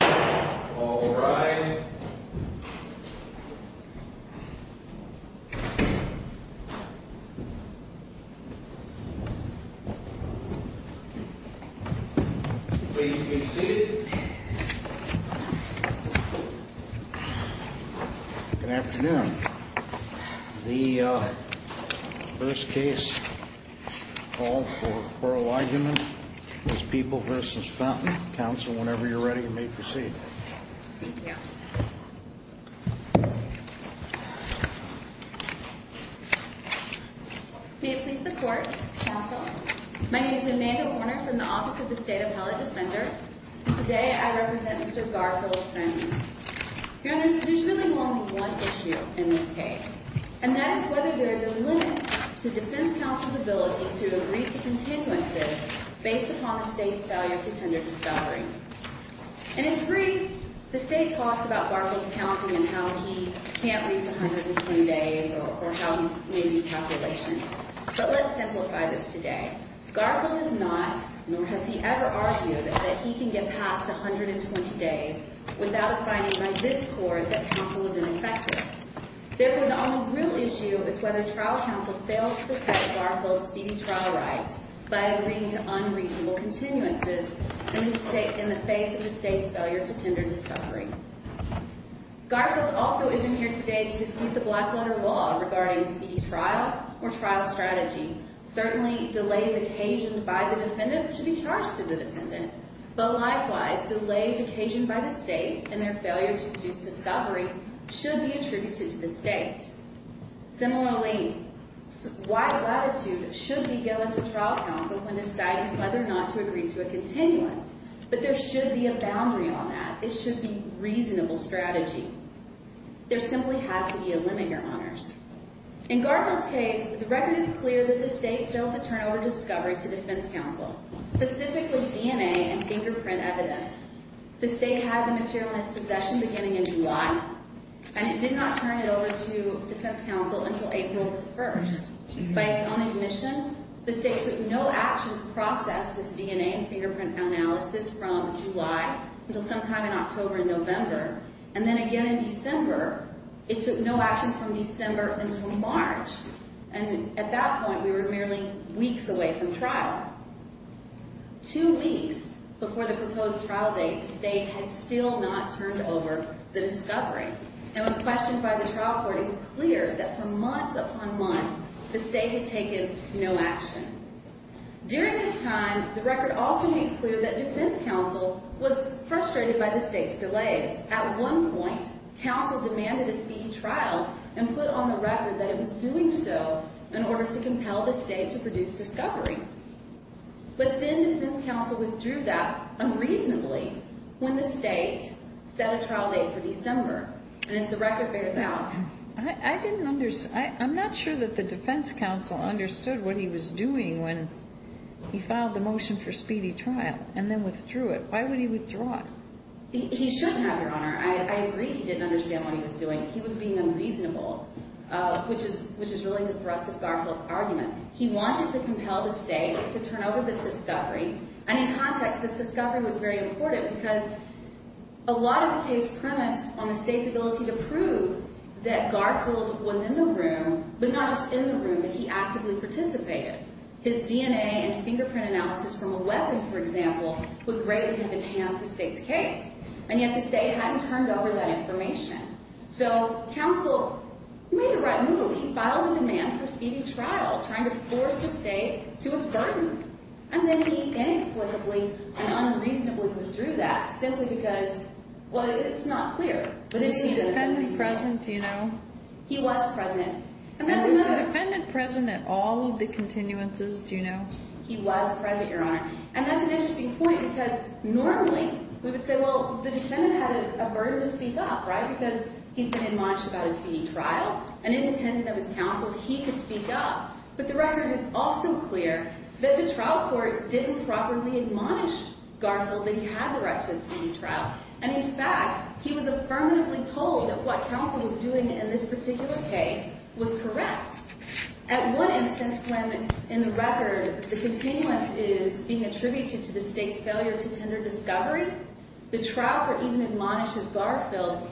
All rise. Please be seated. Good afternoon. The first case for oral argument is People v. Fenton. Counsel, whenever you're ready, you may proceed. Thank you. May it please the Court. Counsel. My name is Amanda Warner from the Office of the State Appellate Defender. Today I represent Mr. Garfield Fenton. Your Honor, there's really only one issue in this case, and that is whether there is a limit to defense counsel's ability to agree to continuances based upon the State's failure to tender discovery. And it's brief. The State talks about Garfield's counting and how he can't reach 120 days or how he's made these calculations. But let's simplify this today. Garfield has not, nor has he ever argued, that he can get past 120 days without a finding by this Court that counsel is ineffective. Therefore, the only real issue is whether trial counsel fails to protect Garfield's speedy trial rights by agreeing to unreasonable continuances in the face of the State's failure to tender discovery. Garfield also isn't here today to dispute the Blackletter Law regarding speedy trial or trial strategy, certainly delays occasioned by the defendant should be charged to the defendant. But likewise, delays occasioned by the State and their failure to produce discovery should be attributed to the State. Similarly, wide latitude should be given to trial counsel when deciding whether or not to agree to a continuance. But there should be a boundary on that. It should be reasonable strategy. There simply has to be a limit, Your Honors. In Garfield's case, the record is clear that the State failed to turn over discovery to defense counsel, specifically DNA and fingerprint evidence. The State had the material in its possession beginning in July, and it did not turn it over to defense counsel until April 1st. By its own admission, the State took no action to process this DNA and fingerprint analysis from July until sometime in October and November, and then again in December. It took no action from December until March. And at that point, we were merely weeks away from trial. Two weeks before the proposed trial date, the State had still not turned over the discovery. And when questioned by the trial court, it was clear that for months upon months, the State had taken no action. During this time, the record also makes clear that defense counsel was frustrated by the State's delays. At one point, counsel demanded a speedy trial and put on the record that it was doing so in order to compel the State to produce discovery. But then defense counsel withdrew that unreasonably when the State set a trial date for December. And as the record bears out... I didn't understand. I'm not sure that the defense counsel understood what he was doing when he filed the motion for speedy trial and then withdrew it. Why would he withdraw it? He shouldn't have, Your Honor. I agree he didn't understand what he was doing. He was being unreasonable, which is really the thrust of Garfield's argument. He wanted to compel the State to turn over this discovery. And in context, this discovery was very important because a lot of the case premised on the State's ability to prove that Garfield was in the room, but not just in the room, that he actively participated. His DNA and fingerprint analysis from 11, for example, would greatly have enhanced the State's case. And yet the State hadn't turned over that information. So, counsel made the right move. He filed a demand for speedy trial, trying to force the State to its burden. And then he inexplicably and unreasonably withdrew that simply because, well, it's not clear. He was the defendant present, you know. He was present. And was the defendant present at all of the continuances, do you know? He was present, Your Honor. And that's an interesting point because normally we would say, well, the defendant had a burden to speak up, right, because he's been admonished about his speedy trial. And independent of his counsel, he could speak up. But the record is also clear that the trial court didn't properly admonish Garfield that he had the right to a speedy trial. And, in fact, he was affirmatively told that what counsel was doing in this particular case was correct. At one instance when, in the record, the continuance is being attributed to the State's failure to tender discovery, the trial court even admonishes Garfield,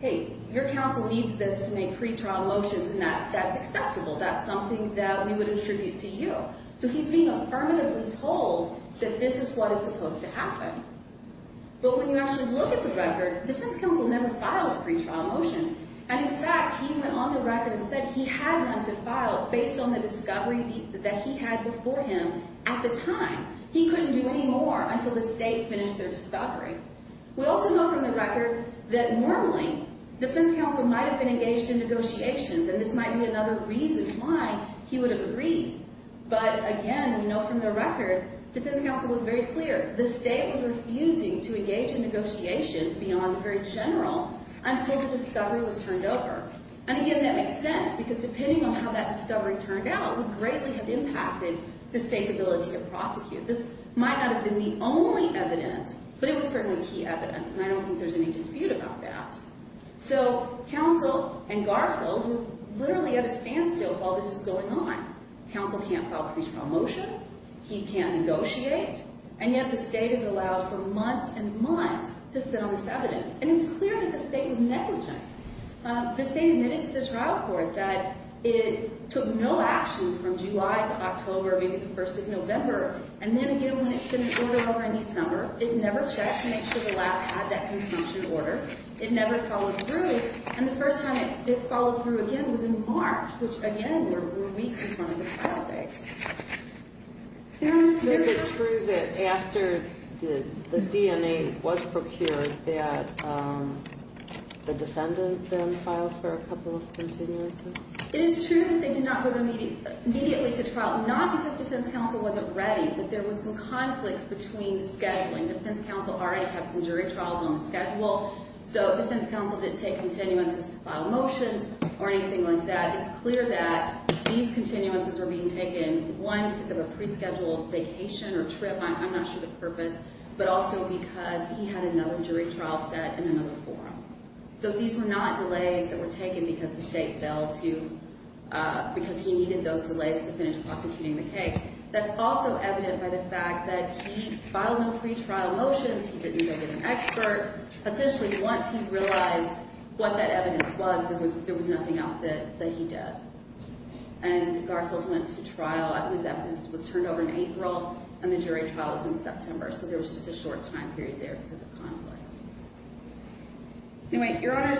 hey, your counsel needs this to make pretrial motions, and that's acceptable. That's something that we would attribute to you. So he's being affirmatively told that this is what is supposed to happen. But when you actually look at the record, defense counsel never filed pretrial motions. And, in fact, he went on the record and said he had none to file based on the discovery that he had before him at the time. He couldn't do any more until the State finished their discovery. We also know from the record that normally defense counsel might have been engaged in negotiations, and this might be another reason why he would have agreed. But, again, we know from the record defense counsel was very clear. The State was refusing to engage in negotiations beyond the very general until the discovery was turned over. And, again, that makes sense because depending on how that discovery turned out would greatly have impacted the State's ability to prosecute. This might not have been the only evidence, but it was certainly key evidence, and I don't think there's any dispute about that. So counsel and Garfield were literally at a standstill while this was going on. Counsel can't file pretrial motions. He can't negotiate. And yet the State has allowed for months and months to sit on this evidence. And it's clear that the State was negligent. The State admitted to the trial court that it took no action from July to October, maybe the first of November. And then, again, when it sent an order over in December, it never checked to make sure the lab had that consumption order. It never followed through. And the first time it followed through, again, was in March, which, again, were weeks in front of the trial date. Is it true that after the DNA was procured that the defendant then filed for a couple of continuances? It is true that they did not go immediately to trial, not because defense counsel wasn't ready, but there was some conflict between scheduling. Defense counsel already had some jury trials on the schedule. So defense counsel didn't take continuances to file motions or anything like that. It's clear that these continuances were being taken, one, because of a pre-scheduled vacation or trip, I'm not sure the purpose, but also because he had another jury trial set and another forum. So these were not delays that were taken because the State failed to – because he needed those delays to finish prosecuting the case. That's also evident by the fact that he filed no pretrial motions. He didn't go get an expert. Essentially, once he realized what that evidence was, there was nothing else that he did. And Garfield went to trial. I believe that this was turned over in April, and the jury trial was in September. So there was just a short time period there because of conflicts. Anyway, Your Honors,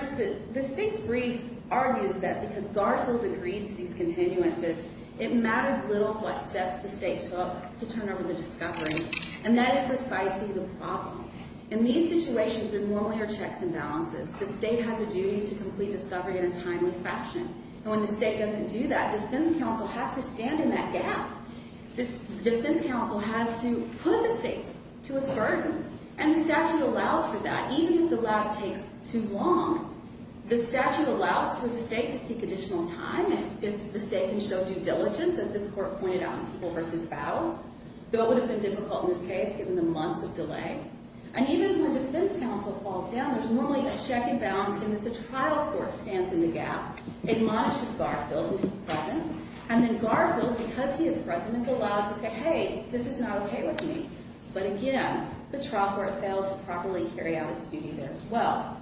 the State's brief argues that because Garfield agreed to these continuances, it mattered little what steps the State took to turn over the discovery, and that is precisely the problem. In these situations, there normally are checks and balances. The State has a duty to complete discovery in a timely fashion. And when the State doesn't do that, defense counsel has to stand in that gap. The defense counsel has to put the State to its burden, and the statute allows for that. Even if the lab takes too long, the statute allows for the State to seek additional time, if the State can show due diligence, as this Court pointed out in People v. Fouls, though it would have been difficult in this case given the months of delay. And even when defense counsel falls down, there's normally a check and balance, and if the trial court stands in the gap, it monitors Garfield and his presence. And then Garfield, because he is present, is allowed to say, hey, this is not okay with me. But again, the trial court failed to properly carry out its duty there as well.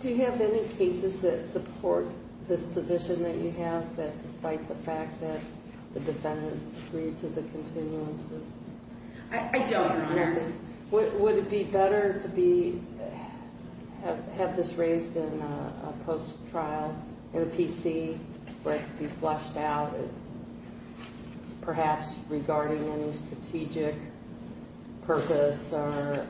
Do you have any cases that support this position that you have, that despite the fact that the defendant agreed to the continuances? I don't, Your Honor. Would it be better to have this raised in a post-trial, in a PC, where it could be flushed out, perhaps regarding any strategic purpose, or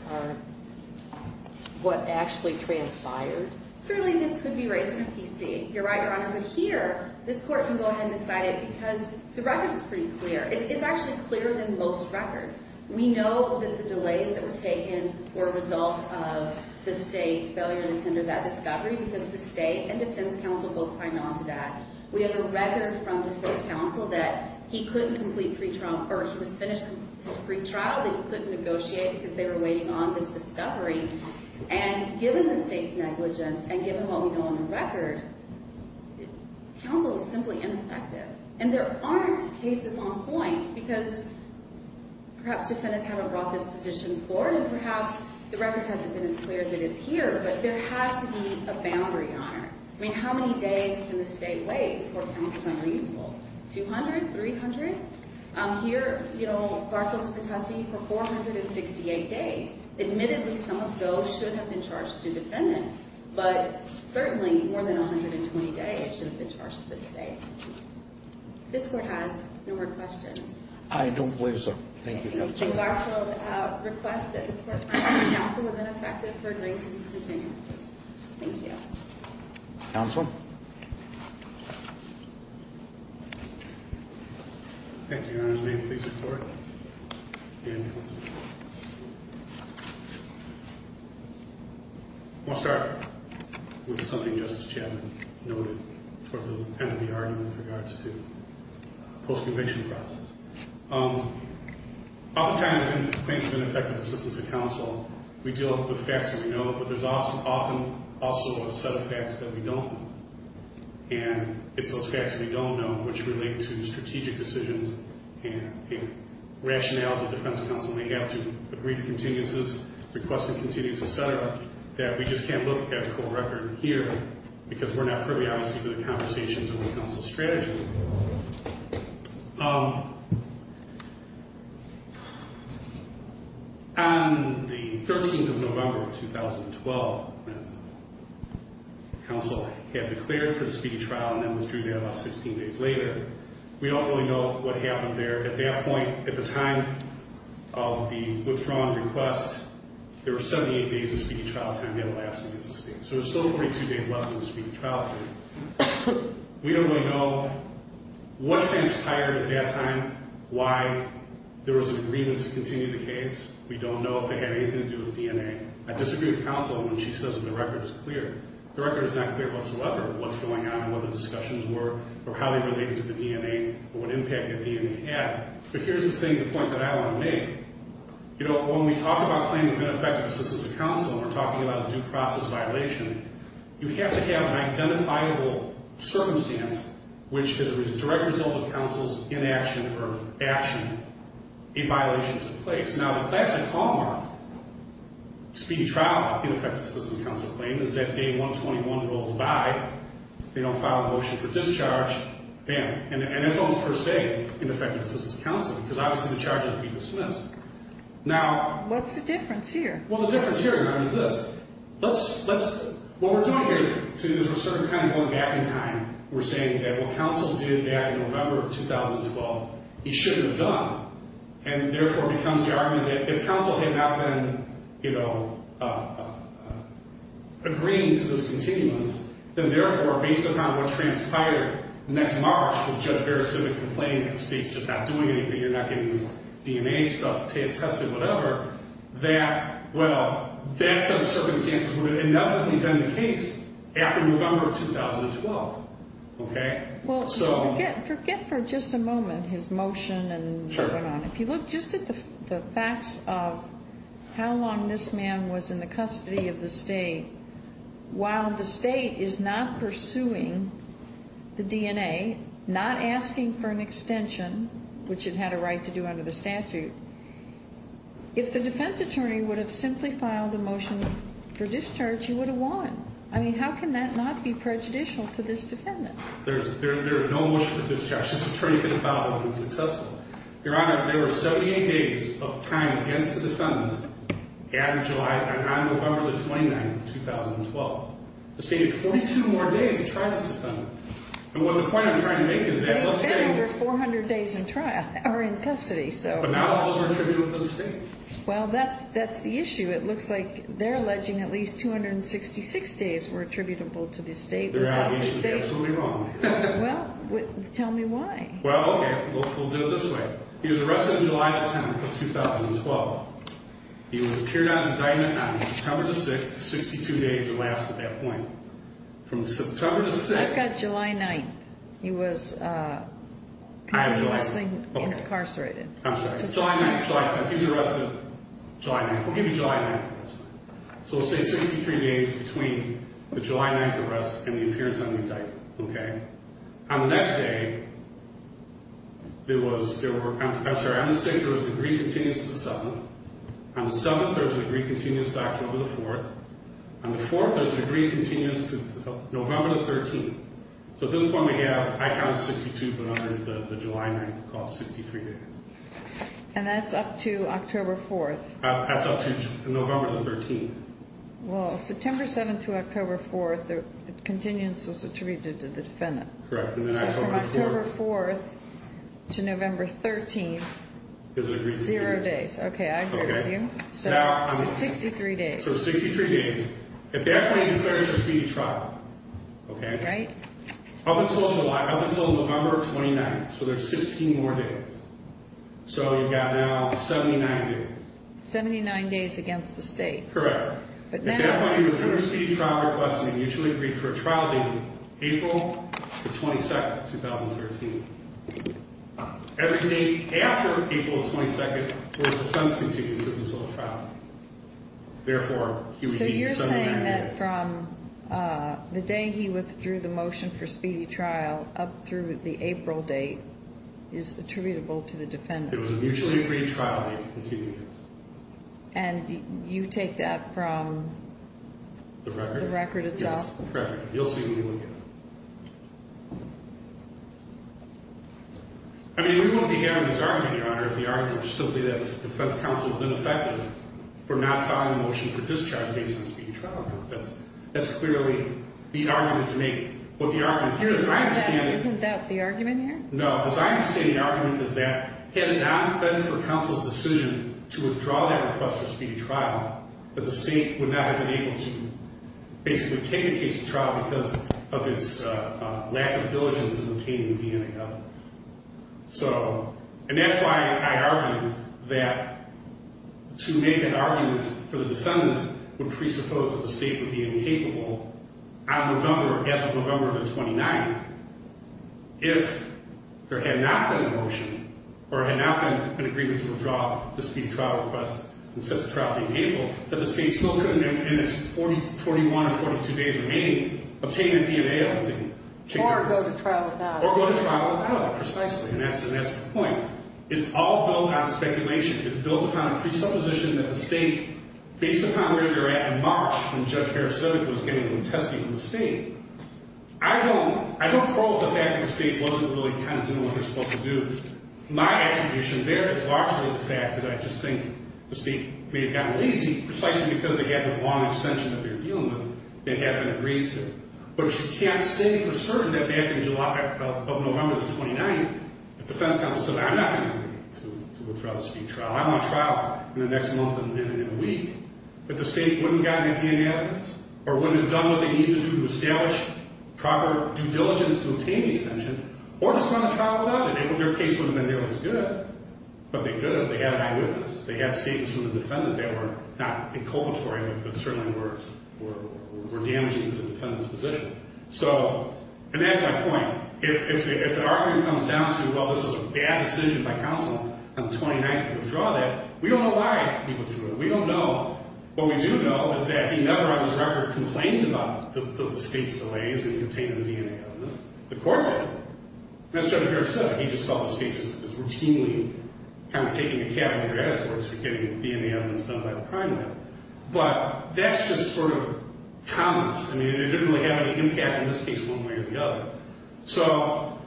what actually transpired? Certainly this could be raised in a PC. You're right, Your Honor, but here, this Court can go ahead and decide it, because the record is pretty clear. It's actually clearer than most records. We know that the delays that were taken were a result of the State's failure to tender that discovery, because the State and defense counsel both signed on to that. We have a record from defense counsel that he couldn't complete pre-trial, or he was finished with his pre-trial, but he couldn't negotiate because they were waiting on this discovery. And given the State's negligence, and given what we know on the record, counsel is simply ineffective. And there aren't cases on point, because perhaps defendants haven't brought this position forward, and perhaps the record hasn't been as clear as it is here. But there has to be a boundary, Your Honor. I mean, how many days can the State wait before counsel is unreasonable? 200? 300? Here, you know, Garfield is in custody for 468 days. Admittedly, some of those should have been charged to a defendant, but certainly more than 120 days should have been charged to the State. This Court has no more questions. I don't believe so. Thank you, Your Honor. Mr. Garfield requests that this Court find that counsel is ineffective for agreeing to these continuances. Thank you. Counsel? Thank you, Your Honor. May it please the Court and counsel. I'll start with something Justice Chapman noted towards the end of the argument with regards to post-conviction process. Oftentimes, when it comes to ineffective assistance of counsel, we deal with facts that we know, but there's often also a set of facts that we don't know. And it's those facts that we don't know which relate to strategic decisions and rationales that defense counsel may have to agree to continuances, request a continuance, et cetera, that we just can't look at the court record here, because we're not privy, obviously, to the conversations around counsel's strategy. Thank you. On the 13th of November of 2012, when counsel had declared for the speedy trial and then withdrew that about 16 days later, we don't really know what happened there. At that point, at the time of the withdrawn request, there were 78 days of speedy trial time. We had a lapse against the State. So there's still 42 days left in the speedy trial period. We don't really know what transpired at that time, why there was an agreement to continue the case. We don't know if it had anything to do with DNA. I disagree with counsel when she says that the record is clear. The record is not clear whatsoever of what's going on and what the discussions were or how they related to the DNA or what impact the DNA had. But here's the thing, the point that I want to make. You know, when we talk about claiming benefactors as a counsel and we're talking about a due process violation, you have to have an identifiable circumstance which is a direct result of counsel's inaction or action, a violation took place. Now, the classic hallmark speedy trial ineffective assistance counsel claim is that day 121 rolls by, they don't file a motion for discharge, and that's almost per se ineffective assistance counsel because obviously the charges would be dismissed. Now… What's the difference here? Well, the difference here is this. Let's… What we're doing here is we're sort of going back in time. We're saying that what counsel did back in November of 2012, he shouldn't have done, and therefore becomes the argument that if counsel had not been, you know, agreeing to this continuance, then therefore based upon what transpired next March with Judge Barrett's civic complaint that the state's just not doing anything, you're not getting this DNA stuff tested, whatever, that, well, that set of circumstances would have inevitably been the case after November 2012. Okay? Well, forget for just a moment his motion and what went on. If you look just at the facts of how long this man was in the custody of the state, while the state is not pursuing the DNA, not asking for an extension, which it had a right to do under the statute, if the defense attorney would have simply filed a motion for discharge, he would have won. I mean, how can that not be prejudicial to this defendant? There's no motion for discharge. This attorney could have filed it and been successful. Your Honor, there were 78 days of time against the defendant, at or July and on November the 29th of 2012. The state had 42 more days to try this defendant. And what the point I'm trying to make is that let's say… But he spent over 400 days in trial or in custody, so… But not all those were attributable to the state. Well, that's the issue. It looks like they're alleging at least 266 days were attributable to the state. The reality is it's absolutely wrong. Well, tell me why. Well, okay, we'll do it this way. He was arrested on July the 10th of 2012. He was carried out on September the 6th. Sixty-two days were left at that point. From September the 6th… I've got July 9th. He was… I have July 9th. …incarcerated. I'm sorry. July 9th. July 10th. He was arrested July 9th. We'll give you July 9th. That's fine. So we'll say 63 days between the July 9th arrest and the appearance on the indictment. Okay? And the next day, there was… I'm sorry. On the 6th, there was a degree continuance to the 7th. On the 7th, there was a degree continuance to October the 4th. On the 4th, there was a degree continuance to November the 13th. So at this point, we have… I counted 62, but on the July 9th, we call it 63 days. And that's up to October 4th. That's up to November the 13th. Well, September 7th through October 4th, the continuance was attributed to the defendant. Correct. And then October 4th… So from October 4th to November 13th, zero days. Okay. I agree with you. Okay. So 63 days. So 63 days. At that point, he declares a speedy trial. Okay? Right? Up until July. Up until November 29th. So there's 16 more days. So you've got now 79 days. 79 days against the state. Correct. At that point, he withdrew his speedy trial request, and he mutually agreed for a trial date, April the 22nd, 2013. Every day after April the 22nd, there was a defense continuance until the trial. Therefore, he would need 79 days. So you're saying that from the day he withdrew the motion for speedy trial up through the April date is attributable to the defendant. It was a mutually agreed trial date, the continuance. And you take that from… The record? The record itself. Yes, correct. You'll see what we look at. I mean, we wouldn't be having this argument, Your Honor, if the argument was simply that the defense counsel has been effective for not filing a motion for discharge based on a speedy trial. That's clearly the argument to make. Isn't that the argument here? No. As I understand the argument is that had it not been for counsel's decision to withdraw that request for a speedy trial, that the state would not have been able to basically take the case to trial because of its lack of diligence in obtaining DNA evidence. So… And that's why I argue that to make an argument for the defendant would presuppose that the state would be incapable on November, as of November the 29th, if there had not been a motion or had not been an agreement to withdraw the speedy trial request and set the trial date in April, that the state still couldn't, in its 41 or 42 days remaining, obtain the DNA evidence. Or go to trial without it. Or go to trial without it, precisely. And that's the point. It's all built on speculation. It's built upon a presupposition that the state, based upon where they're at in March when Judge Harris said it was getting tested in the state, I don't, I don't prove the fact that the state wasn't really kind of doing what they're supposed to do. My attribution there is largely the fact that I just think the state may have gotten lazy, precisely because they had this long extension that they're dealing with that they haven't agreed to. But you can't say for certain that back in July of November the 29th, if defense counsel said, I'm not going to agree to withdraw the speedy trial. I want a trial in the next month and then in a week. But the state wouldn't have gotten DNA evidence, or wouldn't have done what they needed to do to establish proper due diligence to obtain the extension, or just gone to trial without it. Their case would have been nearly as good. But they could have. They had an eyewitness. They had statements from the defendant that were not inculpatory, but certainly were damaging to the defendant's position. So, and that's my point. If an argument comes down to, well, this was a bad decision by counsel on the 29th to withdraw that, we don't know why he withdrew it. We don't know. What we do know is that he never, on his record, complained about the state's delays in obtaining the DNA evidence. The court did. And as Judge Harris said, he just felt the state was routinely kind of taking a cat out of your hat, as far as getting DNA evidence done by the crime lab. But that's just sort of comments. I mean, it didn't really have any impact in this case one way or the other. So,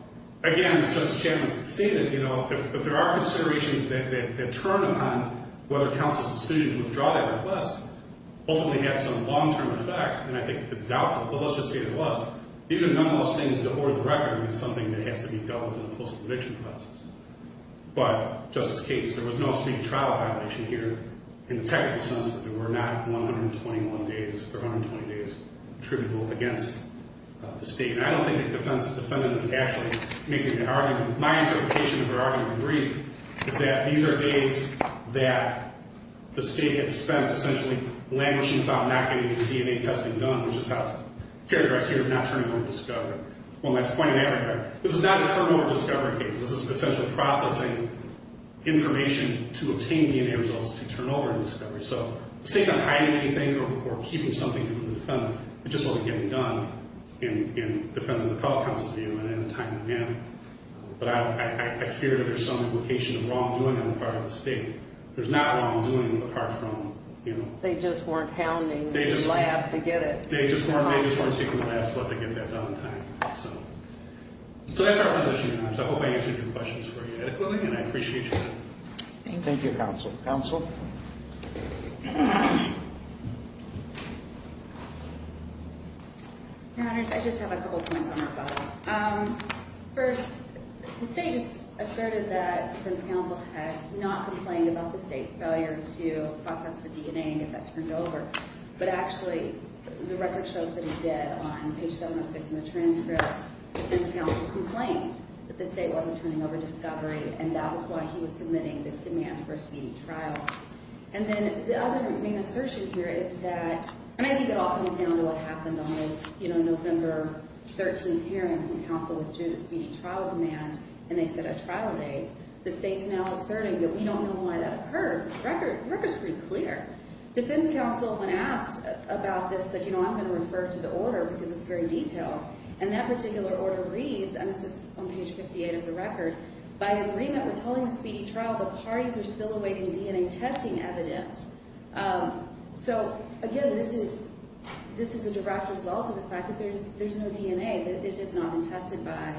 again, as Justice Chapman stated, you know, if there are considerations that turn upon whether counsel's decision to withdraw that request ultimately had some long-term effects, then I think it's doubtful. But let's just say it was. These are the number one things that, for the record, is something that has to be dealt with in a post-conviction process. But, Justice Cates, there was no street trial violation here in the technical sense, but there were not 121 days or 120 days attributable against the state. And I don't think the defendant is actually making an argument. My interpretation of her argument in brief is that these are days that the state had spent essentially languishing about not getting the DNA testing done, which is how it's characterized here, not turning over to discovery. Well, my point in that regard, this is not a turnover to discovery case. This is essentially processing information to obtain DNA results to turn over to discovery. So the state's not hiding anything or keeping something from the defendant. It just wasn't getting done, in the defendant's and fellow counsel's view, in a timely manner. But I fear that there's some implication of wrongdoing on the part of the state. There's not wrongdoing apart from, you know. They just weren't hounding the lab to get it. They just weren't taking the lab to let them get that done on time. So that's our presentation. I hope I answered your questions adequately, and I appreciate your time. Thank you. Thank you, counsel. Counsel? Your Honors, I just have a couple points on our file. First, the state just asserted that the defense counsel had not complained about the state's failure to process the DNA and get that turned over. But actually, the record shows that he did on page 706 in the transcripts. The defense counsel complained that the state wasn't turning over discovery, and that was why he was submitting this demand for a speedy trial. And then the other main assertion here is that, and I think it all comes down to what happened on this, you know, November 13th hearing from counsel due to speedy trial demand. And they set a trial date. The state's now asserting that we don't know why that occurred. The record's pretty clear. Defense counsel, when asked about this, said, you know, I'm going to refer to the order because it's very detailed. And that particular order reads, and this is on page 58 of the record, by agreement with holding the speedy trial, the parties are still awaiting DNA testing evidence. So, again, this is a direct result of the fact that there's no DNA. It has not been tested by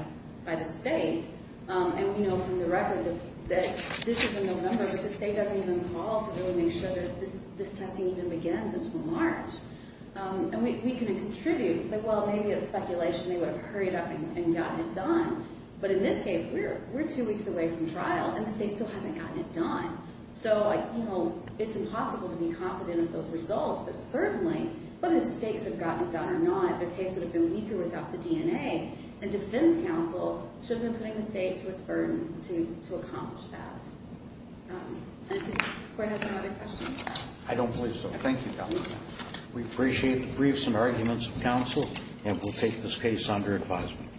the state. And we know from the record that this is in November, but the state doesn't even call to really make sure that this testing even begins until March. And we couldn't contribute. It's like, well, maybe it's speculation. They would have hurried up and gotten it done. But in this case, we're two weeks away from trial, and the state still hasn't gotten it done. So, you know, it's impossible to be confident of those results. But certainly, whether the state could have gotten it done or not, the case would have been weaker without the DNA. And defense counsel should have been putting the state to its burden to accomplish that. And does the court have some other questions? I don't believe so. Thank you, Governor. We appreciate the briefs and arguments of counsel, and we'll take this case under advisement.